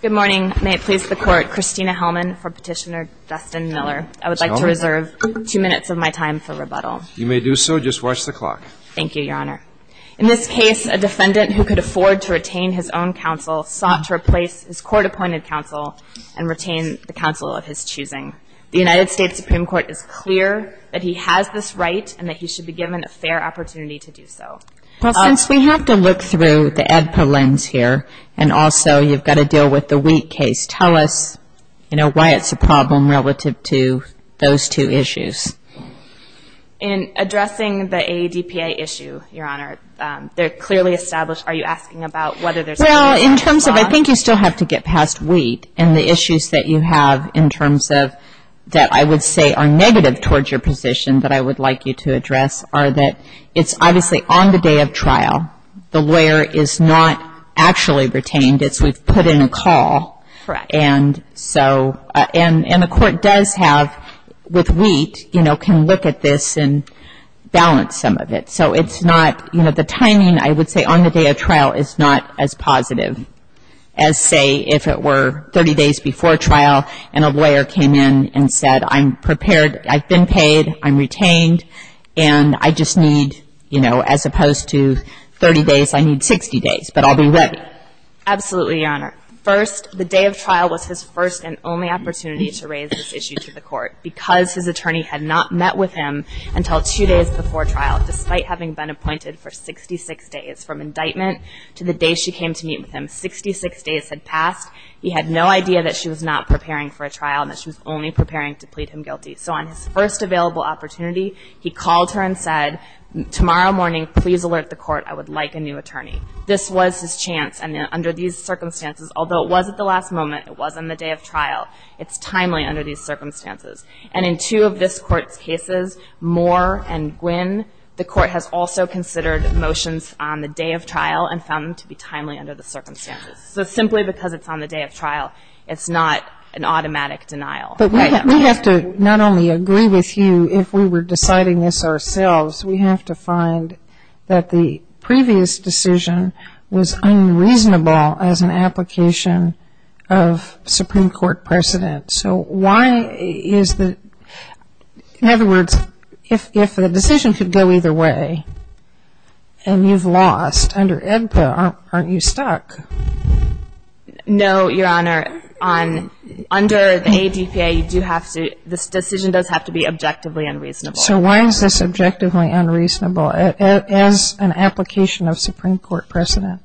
Good morning. May it please the Court. Christina Hellman for Petitioner Dustin Miller. I would like to reserve two minutes of my time for rebuttal. You may do so. Just watch the clock. Thank you, Your Honor. In this case, a defendant who could afford to retain his own counsel sought to replace his court-appointed counsel and retain the counsel of his choosing. The United States Supreme Court is clear that he has this right and that he should be given a fair opportunity to do so. Well, since we have to look through the ADPA lens here and also you've got to deal with the Wheat case, tell us, you know, why it's a problem relative to those two issues. In addressing the AADPA issue, Your Honor, they're clearly established. Are you asking about whether there's a legal response? Well, in terms of I think you still have to get past Wheat and the issues that you have in terms of that I would say are negative towards your position that I would like you to address are that it's obviously on the day of trial. The lawyer is not actually retained. It's we've put in a call. Correct. And so and the court does have with Wheat, you know, can look at this and balance some of it. So it's not, you know, the timing I would say on the day of trial is not as positive as say if it were 30 days before trial and a lawyer came in and said, I'm prepared, I've been paid, I'm retained, and I just need, you know, as opposed to 30 days, I need 60 days, but I'll be ready. Absolutely, Your Honor. First, the day of trial was his first and only opportunity to raise this issue to the court because his attorney had not met with him until two days before trial despite having been appointed for 66 days from indictment to the day she came to meet with him. Sixty-six days had passed. He had no idea that she was not preparing for a trial and that she was only preparing to plead him guilty. So on his first available opportunity, he called her and said, tomorrow morning please alert the court, I would like a new attorney. This was his chance, and under these circumstances, although it was at the last moment, it was on the day of trial, it's timely under these circumstances. And in two of this court's cases, Moore and Gwin, the court has also considered motions on the day of trial and found them to be timely under the circumstances. So simply because it's on the day of trial, it's not an automatic denial. But we have to not only agree with you if we were deciding this ourselves, we have to find that the previous decision was unreasonable as an application of Supreme Court precedent. So why is the, in other words, if the decision could go either way and you've lost, under ADPA, aren't you stuck? No, Your Honor. Under the ADPA, you do have to, this decision does have to be objectively unreasonable. So why is this objectively unreasonable as an application of Supreme Court precedent?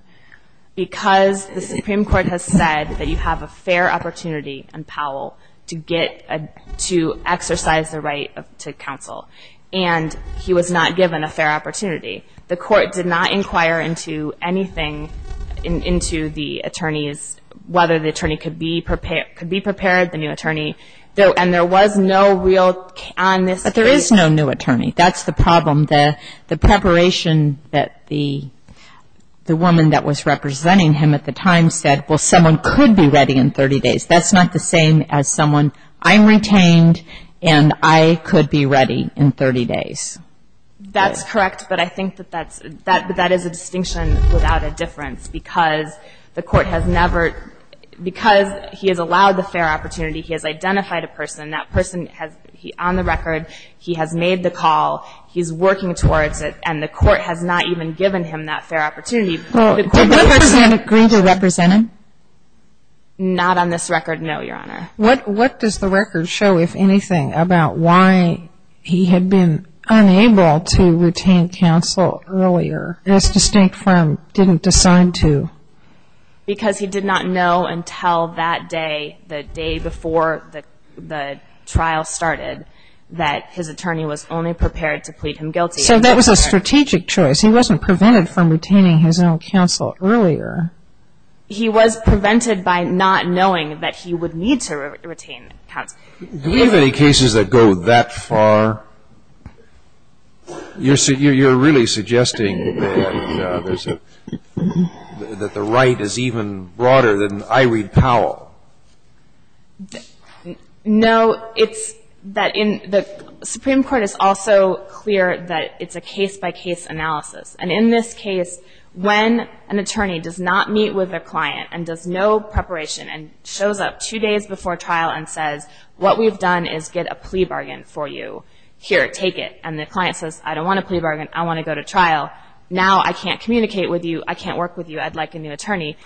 Because the Supreme Court has said that you have a fair opportunity in Powell to get, to exercise the right to counsel. And he was not given a fair opportunity. The court did not inquire into anything into the attorney's, whether the attorney could be prepared, the new attorney. And there was no real on this case. But there is no new attorney. That's the problem. The preparation that the woman that was representing him at the time said, well, someone could be ready in 30 days. That's not the same as someone, I'm retained and I could be ready in 30 days. That's correct. But I think that that's, that is a distinction without a difference. Because the court has never, because he has allowed the fair opportunity, he has identified a person. That person has, on the record, he has made the call. He's working towards it. And the court has not even given him that fair opportunity. Did the person agree to represent him? Not on this record, no, Your Honor. What does the record show, if anything, about why he had been unable to retain counsel earlier, as distinct from didn't decide to? Because he did not know until that day, the day before the trial started, that his attorney was only prepared to plead him guilty. So that was a strategic choice. He wasn't prevented from retaining his own counsel earlier. He was prevented by not knowing that he would need to retain counsel. Do we have any cases that go that far? You're really suggesting that there's a, that the right is even broader than Irede Powell. No, it's that in, the Supreme Court is also clear that it's a case-by-case analysis. And in this case, when an attorney does not meet with their client and does no preparation and shows up two days before trial and says, what we've done is get a plea bargain for you. Here, take it. And the client says, I don't want a plea bargain. I want to go to trial. Now I can't communicate with you. I can't work with you. I'd like a new attorney.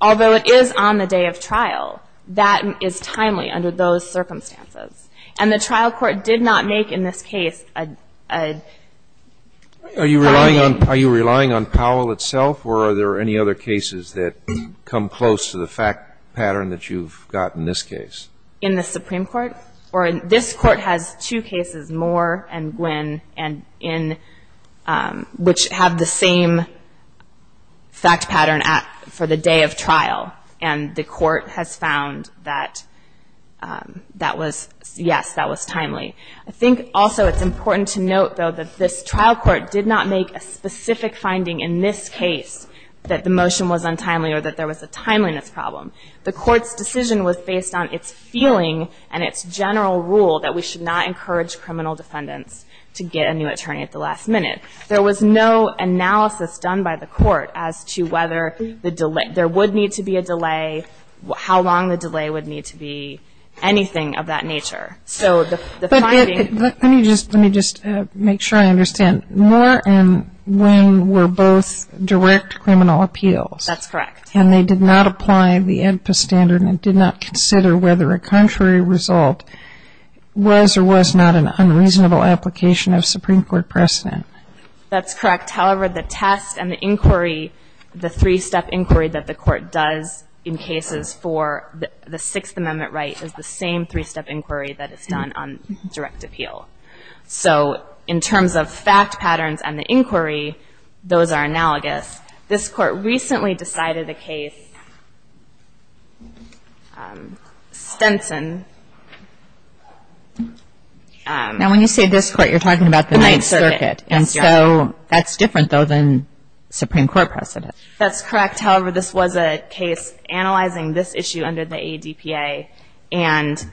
Although it is on the day of trial, that is timely under those circumstances. And the trial court did not make in this case a plea bargain. Are you relying on Powell itself or are there any other cases that come close to the fact pattern that you've got in this case? In the Supreme Court? Or this Court has two cases, Moore and Gwinn, and in, and the court has found that that was, yes, that was timely. I think also it's important to note, though, that this trial court did not make a specific finding in this case that the motion was untimely or that there was a timeliness problem. The court's decision was based on its feeling and its general rule that we should not encourage criminal defendants to get a new attorney at the last minute. There was no analysis done by the court as to whether there would need to be a delay, how long the delay would need to be, anything of that nature. But let me just make sure I understand. Moore and Gwinn were both direct criminal appeals. That's correct. And they did not apply the AEDPA standard and did not consider whether a contrary result was or was not an unreasonable application of Supreme Court precedent. That's correct. However, the test and the inquiry, the three-step inquiry that the court does in cases for the Sixth Amendment right is the same three-step inquiry that is done on direct appeal. So in terms of fact patterns and the inquiry, those are analogous. This Court recently decided a case, Stenson. Now, when you say this Court, you're talking about the Ninth Circuit. The Ninth Circuit. And so that's different, though, than Supreme Court precedent. That's correct. However, this was a case analyzing this issue under the AEDPA. And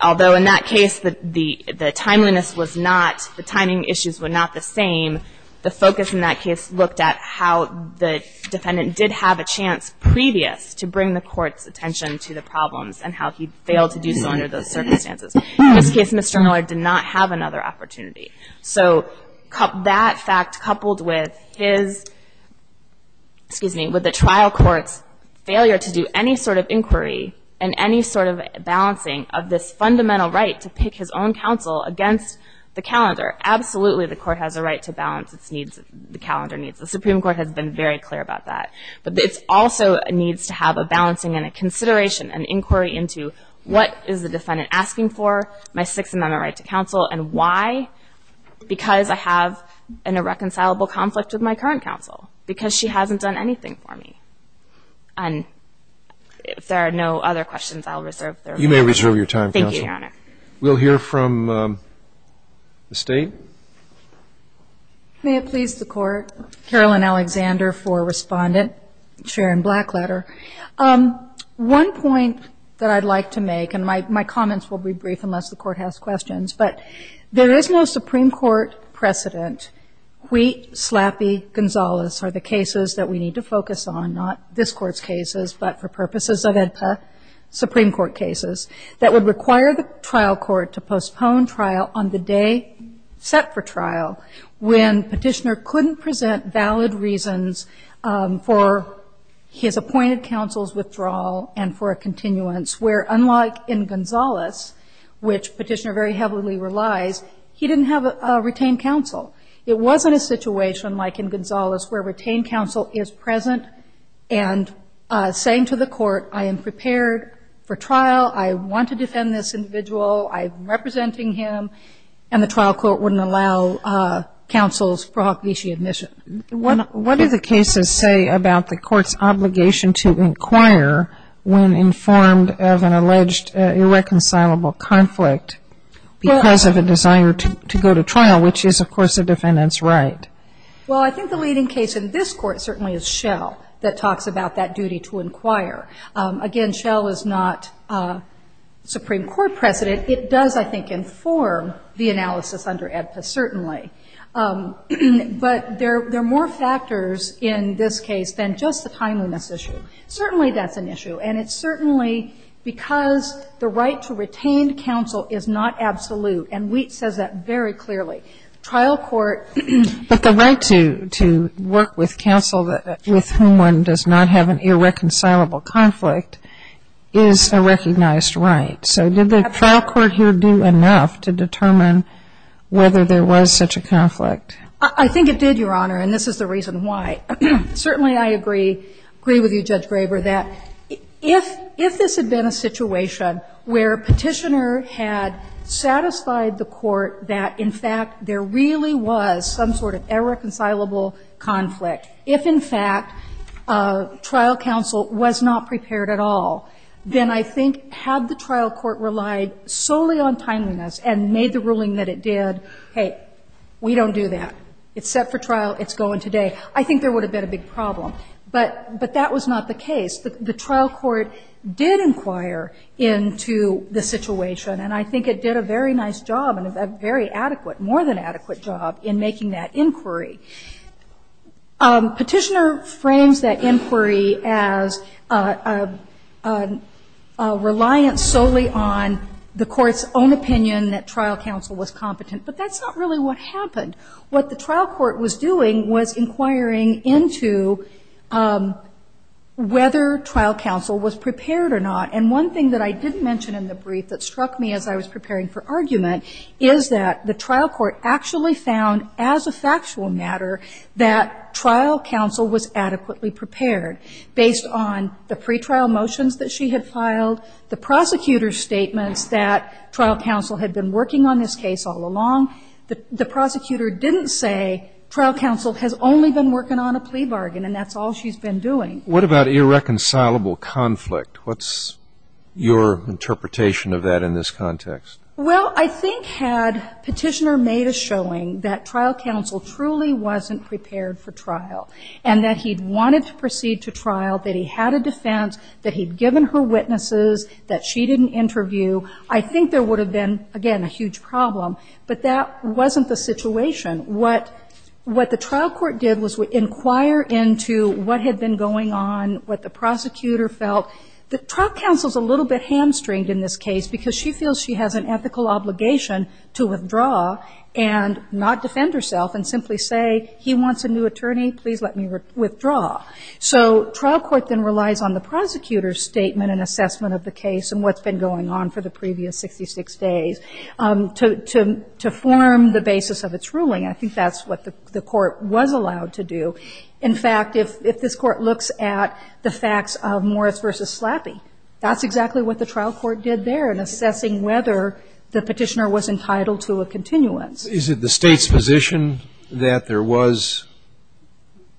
although in that case the timeliness was not, the timing issues were not the same, the focus in that case looked at how the defendant did have a chance previous to bring the court's attention to the problems and how he failed to do so under those circumstances. In this case, Mr. Miller did not have another opportunity. So that fact coupled with his, excuse me, with the trial court's failure to do any sort of inquiry and any sort of balancing of this fundamental right to pick his own counsel against the calendar, absolutely the court has a right to balance its needs, the calendar needs. The Supreme Court has been very clear about that. But it also needs to have a balancing and a consideration, an inquiry into what is the defendant asking for, my Sixth Amendment right to counsel, and why? Because I have an irreconcilable conflict with my current counsel. Because she hasn't done anything for me. And if there are no other questions, I'll reserve their time. You may reserve your time, Counsel. Thank you, Your Honor. We'll hear from the State. May it please the Court, Carolyn Alexander for Respondent, Sharon Blackletter. One point that I'd like to make, and my comments will be brief unless the Court has questions, but there is no Supreme Court precedent. Wheat, Slappy, Gonzalez are the cases that we need to focus on, not this Court's cases, but for purposes of AEDPA, Supreme Court cases, that would require the trial court to postpone trial on the day set for trial when petitioner couldn't present valid reasons for his appointed counsel's withdrawal and for a continuance, where unlike in Gonzalez, which petitioner very heavily relies, he didn't have a retained counsel. It wasn't a situation like in Gonzalez, where retained counsel is present and saying to the court, I am prepared for trial, I want to defend this individual, I'm representing him, and the trial court wouldn't allow counsel's prohibition admission. What do the cases say about the court's obligation to inquire when informed of an alleged irreconcilable conflict because of a desire to go to trial, which is, of course, a defendant's right? Well, I think the leading case in this Court certainly is Schell that talks about that duty to inquire. Again, Schell is not Supreme Court precedent. It does, I think, inform the analysis under AEDPA, certainly. But there are more factors in this case than just the timeliness issue. Certainly that's an issue. And it's certainly because the right to retain counsel is not absolute, and Wheat says that very clearly. Trial court ---- But the right to work with counsel with whom one does not have an irreconcilable conflict is a recognized right. So did the trial court here do enough to determine whether there was such a conflict? I think it did, Your Honor, and this is the reason why. Certainly I agree with you, Judge Graber, that if this had been a situation where Petitioner had satisfied the court that, in fact, there really was some sort of irreconcilable conflict, if, in fact, trial counsel was not prepared at all, then I think had the trial court relied solely on timeliness and made the ruling that it did, hey, we don't do that. It's set for trial. It's going today. I think there would have been a big problem. But that was not the case. The trial court did inquire into the situation, and I think it did a very nice job and a very adequate, more than adequate job, in making that inquiry. Petitioner frames that inquiry as a reliance solely on the court's own opinion that trial counsel was competent. But that's not really what happened. What the trial court was doing was inquiring into whether trial counsel was prepared or not, and one thing that I did mention in the brief that struck me as I was preparing for argument is that the trial court actually found, as a factual matter, that trial counsel was adequately prepared based on the pretrial motions that she had filed, the prosecutor's statements that trial counsel had been working on this case all along. The prosecutor didn't say trial counsel has only been working on a plea bargain and that's all she's been doing. What about irreconcilable conflict? What's your interpretation of that in this context? Well, I think had Petitioner made a showing that trial counsel truly wasn't prepared for trial and that he'd wanted to proceed to trial, that he had a defense, that he'd given her witnesses, that she didn't interview, I think there would have been, again, a huge problem. But that wasn't the situation. What the trial court did was inquire into what had been going on, what the prosecutor felt. The trial counsel's a little bit hamstringed in this case because she feels she has an ethical obligation to withdraw and not defend herself and simply say, he wants a new attorney, please let me withdraw. So trial court then relies on the prosecutor's statement and assessment of the case and what's been going on for the previous 66 days to form the basis of its ruling. I think that's what the court was allowed to do. In fact, if this Court looks at the facts of Morris v. Slappy, that's exactly what the trial court did there in assessing whether the Petitioner was entitled to a continuance. Is it the State's position that there was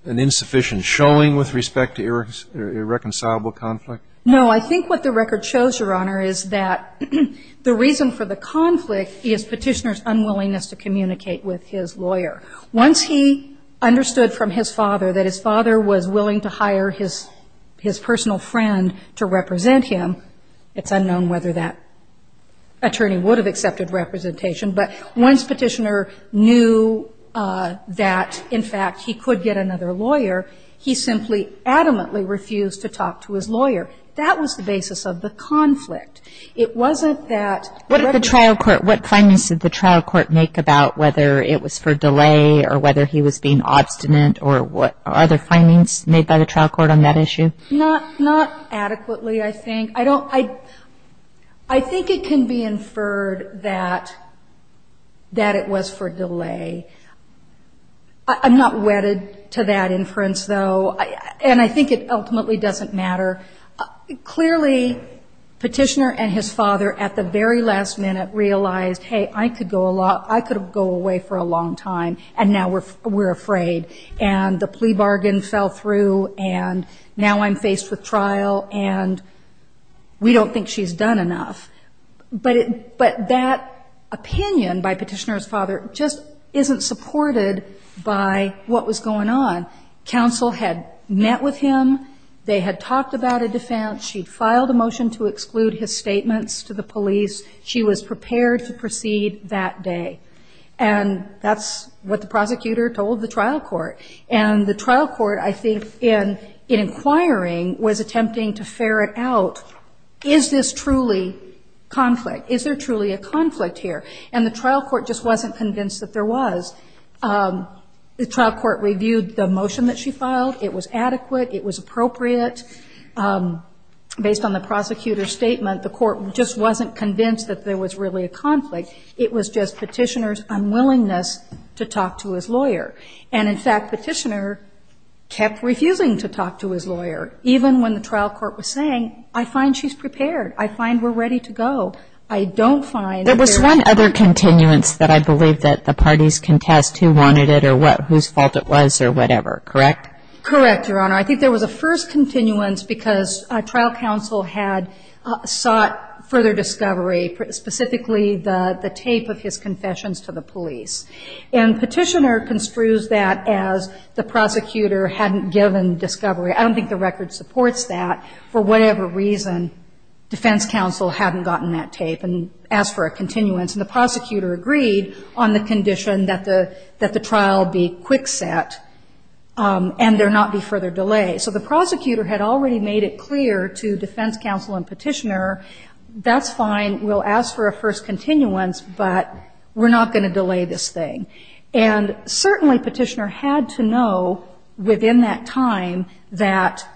an insufficient showing with respect to irreconcilable conflict? No. I think what the record shows, Your Honor, is that the reason for the conflict is Petitioner's unwillingness to communicate with his lawyer. Once he understood from his father that his father was willing to hire his personal friend to represent him, it's unknown whether that attorney would have accepted representation. But once Petitioner knew that, in fact, he could get another lawyer, he simply adamantly refused to talk to his lawyer. That was the basis of the conflict. It wasn't that record. What did the trial court, what findings did the trial court make about whether it was for delay or whether he was being obstinate or what other findings made by the trial court on that issue? Not adequately, I think. I don't, I think it can be inferred that it was for delay. I'm not wedded to that inference, though. And I think it ultimately doesn't matter. Clearly, Petitioner and his father at the very last minute realized, hey, I could go away for a long time, and now we're afraid. And the plea bargain fell through, and now I'm faced with trial, and we don't think she's done enough. But that opinion by Petitioner's father just isn't supported by what was going on. Counsel had met with him. They had talked about a defense. She'd filed a motion to exclude his statements to the police. She was prepared to proceed that day. And that's what the prosecutor told the trial court. And the trial court, I think, in inquiring, was attempting to ferret out, is this truly conflict? Is there truly a conflict here? And the trial court just wasn't convinced that there was. The trial court reviewed the motion that she filed. It was adequate. It was appropriate. Based on the prosecutor's statement, the court just wasn't convinced that there was really a conflict. It was just Petitioner's unwillingness to talk to his lawyer. And, in fact, Petitioner kept refusing to talk to his lawyer, even when the trial court was saying, I find she's prepared. I find we're ready to go. I don't find that there's a conflict. And there was not a middle ground of who says what or whose tests they wanted or whose fault it was or whatever? Correct? Correct, Your Honor. I think there was a first continuance because trial counsel had sought further discovery, specifically the tape of his confessions to the police. And Petitioner construes that as the prosecutor hadn't given discovery. I don't think the record supports that. For whatever reason, defense counsel hadn't gotten that tape and asked for a continuance. And the prosecutor agreed on the condition that the trial be quick set and there not be further delay. So the prosecutor had already made it clear to defense counsel and Petitioner, that's fine, we'll ask for a first continuance, but we're not going to delay this thing. And certainly Petitioner had to know within that time that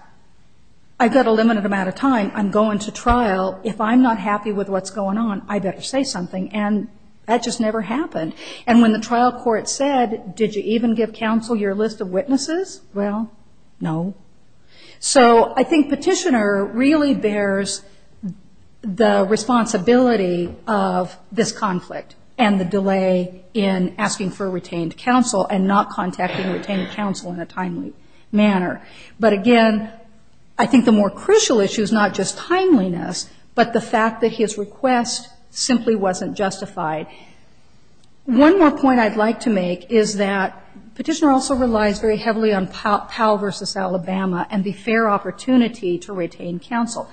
I've got a limited amount of time, I'm going to trial, if I'm not happy with what's going on, I better say something. And that just never happened. And when the trial court said, did you even give counsel your list of witnesses? Well, no. So I think Petitioner really bears the responsibility of this conflict and the delay in asking for retained counsel and not contacting retained counsel in a timely manner. But again, I think the more crucial issue is not just timeliness, but the fact that his request simply wasn't justified. One more point I'd like to make is that Petitioner also relies very heavily on Powell v. Alabama and the fair opportunity to retain counsel.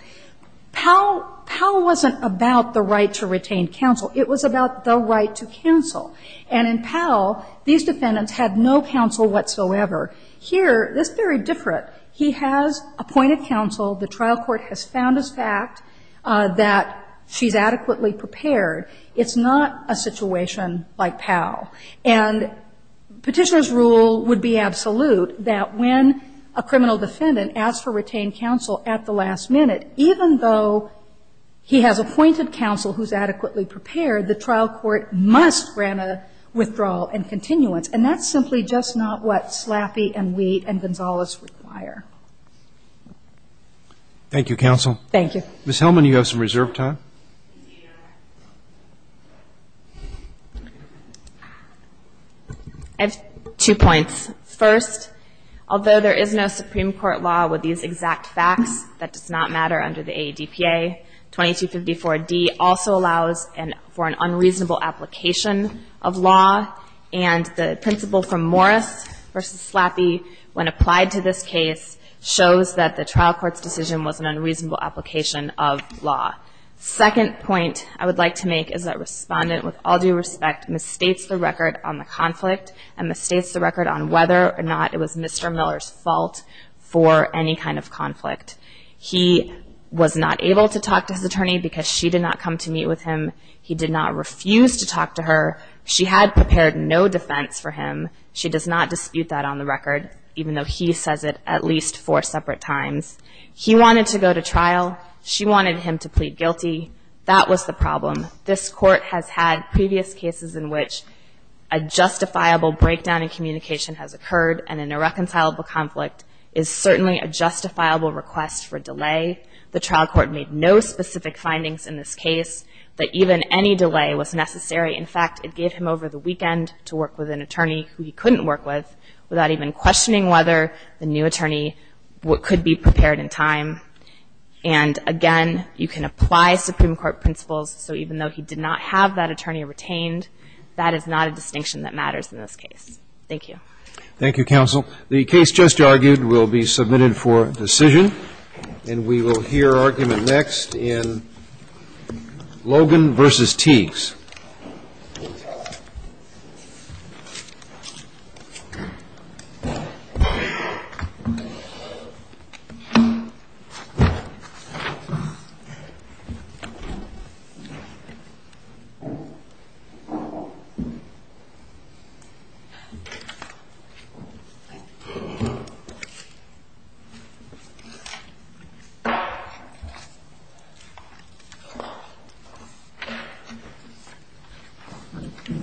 Powell wasn't about the right to retain counsel. It was about the right to counsel. And in Powell, these defendants had no counsel whatsoever. Here, this is very different. He has appointed counsel. The trial court has found as fact that she's adequately prepared. It's not a situation like Powell. And Petitioner's rule would be absolute that when a criminal defendant asks for retained counsel at the last minute, even though he has appointed counsel who's adequately prepared, the trial court must grant a withdrawal and continuance. And that's simply just not what Slaffee and Wheat and Gonzales require. Roberts. Thank you, counsel. Thank you. Ms. Hellman, you have some reserved time. I have two points. First, although there is no Supreme Court law with these exact facts that does not matter under the AADPA, 2254D also allows for an unreasonable application of law. And the principle from Morris v. Slaffee, when applied to this case, shows that the trial court's decision was an unreasonable application of law. Second point I would like to make is that Respondent, with all due respect, misstates the record on the conflict and misstates the record on whether or not it was Mr. Miller's fault for any kind of conflict. He was not able to talk to his attorney because she did not come to meet with him. He did not refuse to talk to her. She had prepared no defense for him. She does not dispute that on the record, even though he says it at least four separate times. He wanted to go to trial. She wanted him to plead guilty. That was the problem. This Court has had previous cases in which a justifiable breakdown in communication has occurred and an irreconcilable conflict is certainly a justifiable request for delay. The trial court made no specific findings in this case that even any delay was necessary. In fact, it gave him over the weekend to work with an attorney who he couldn't work with without even questioning whether the new attorney could be prepared in time. And again, you can apply Supreme Court principles. So even though he did not have that attorney retained, that is not a distinction that matters in this case. Thank you. Thank you, counsel. The case just argued will be submitted for decision. Thank you.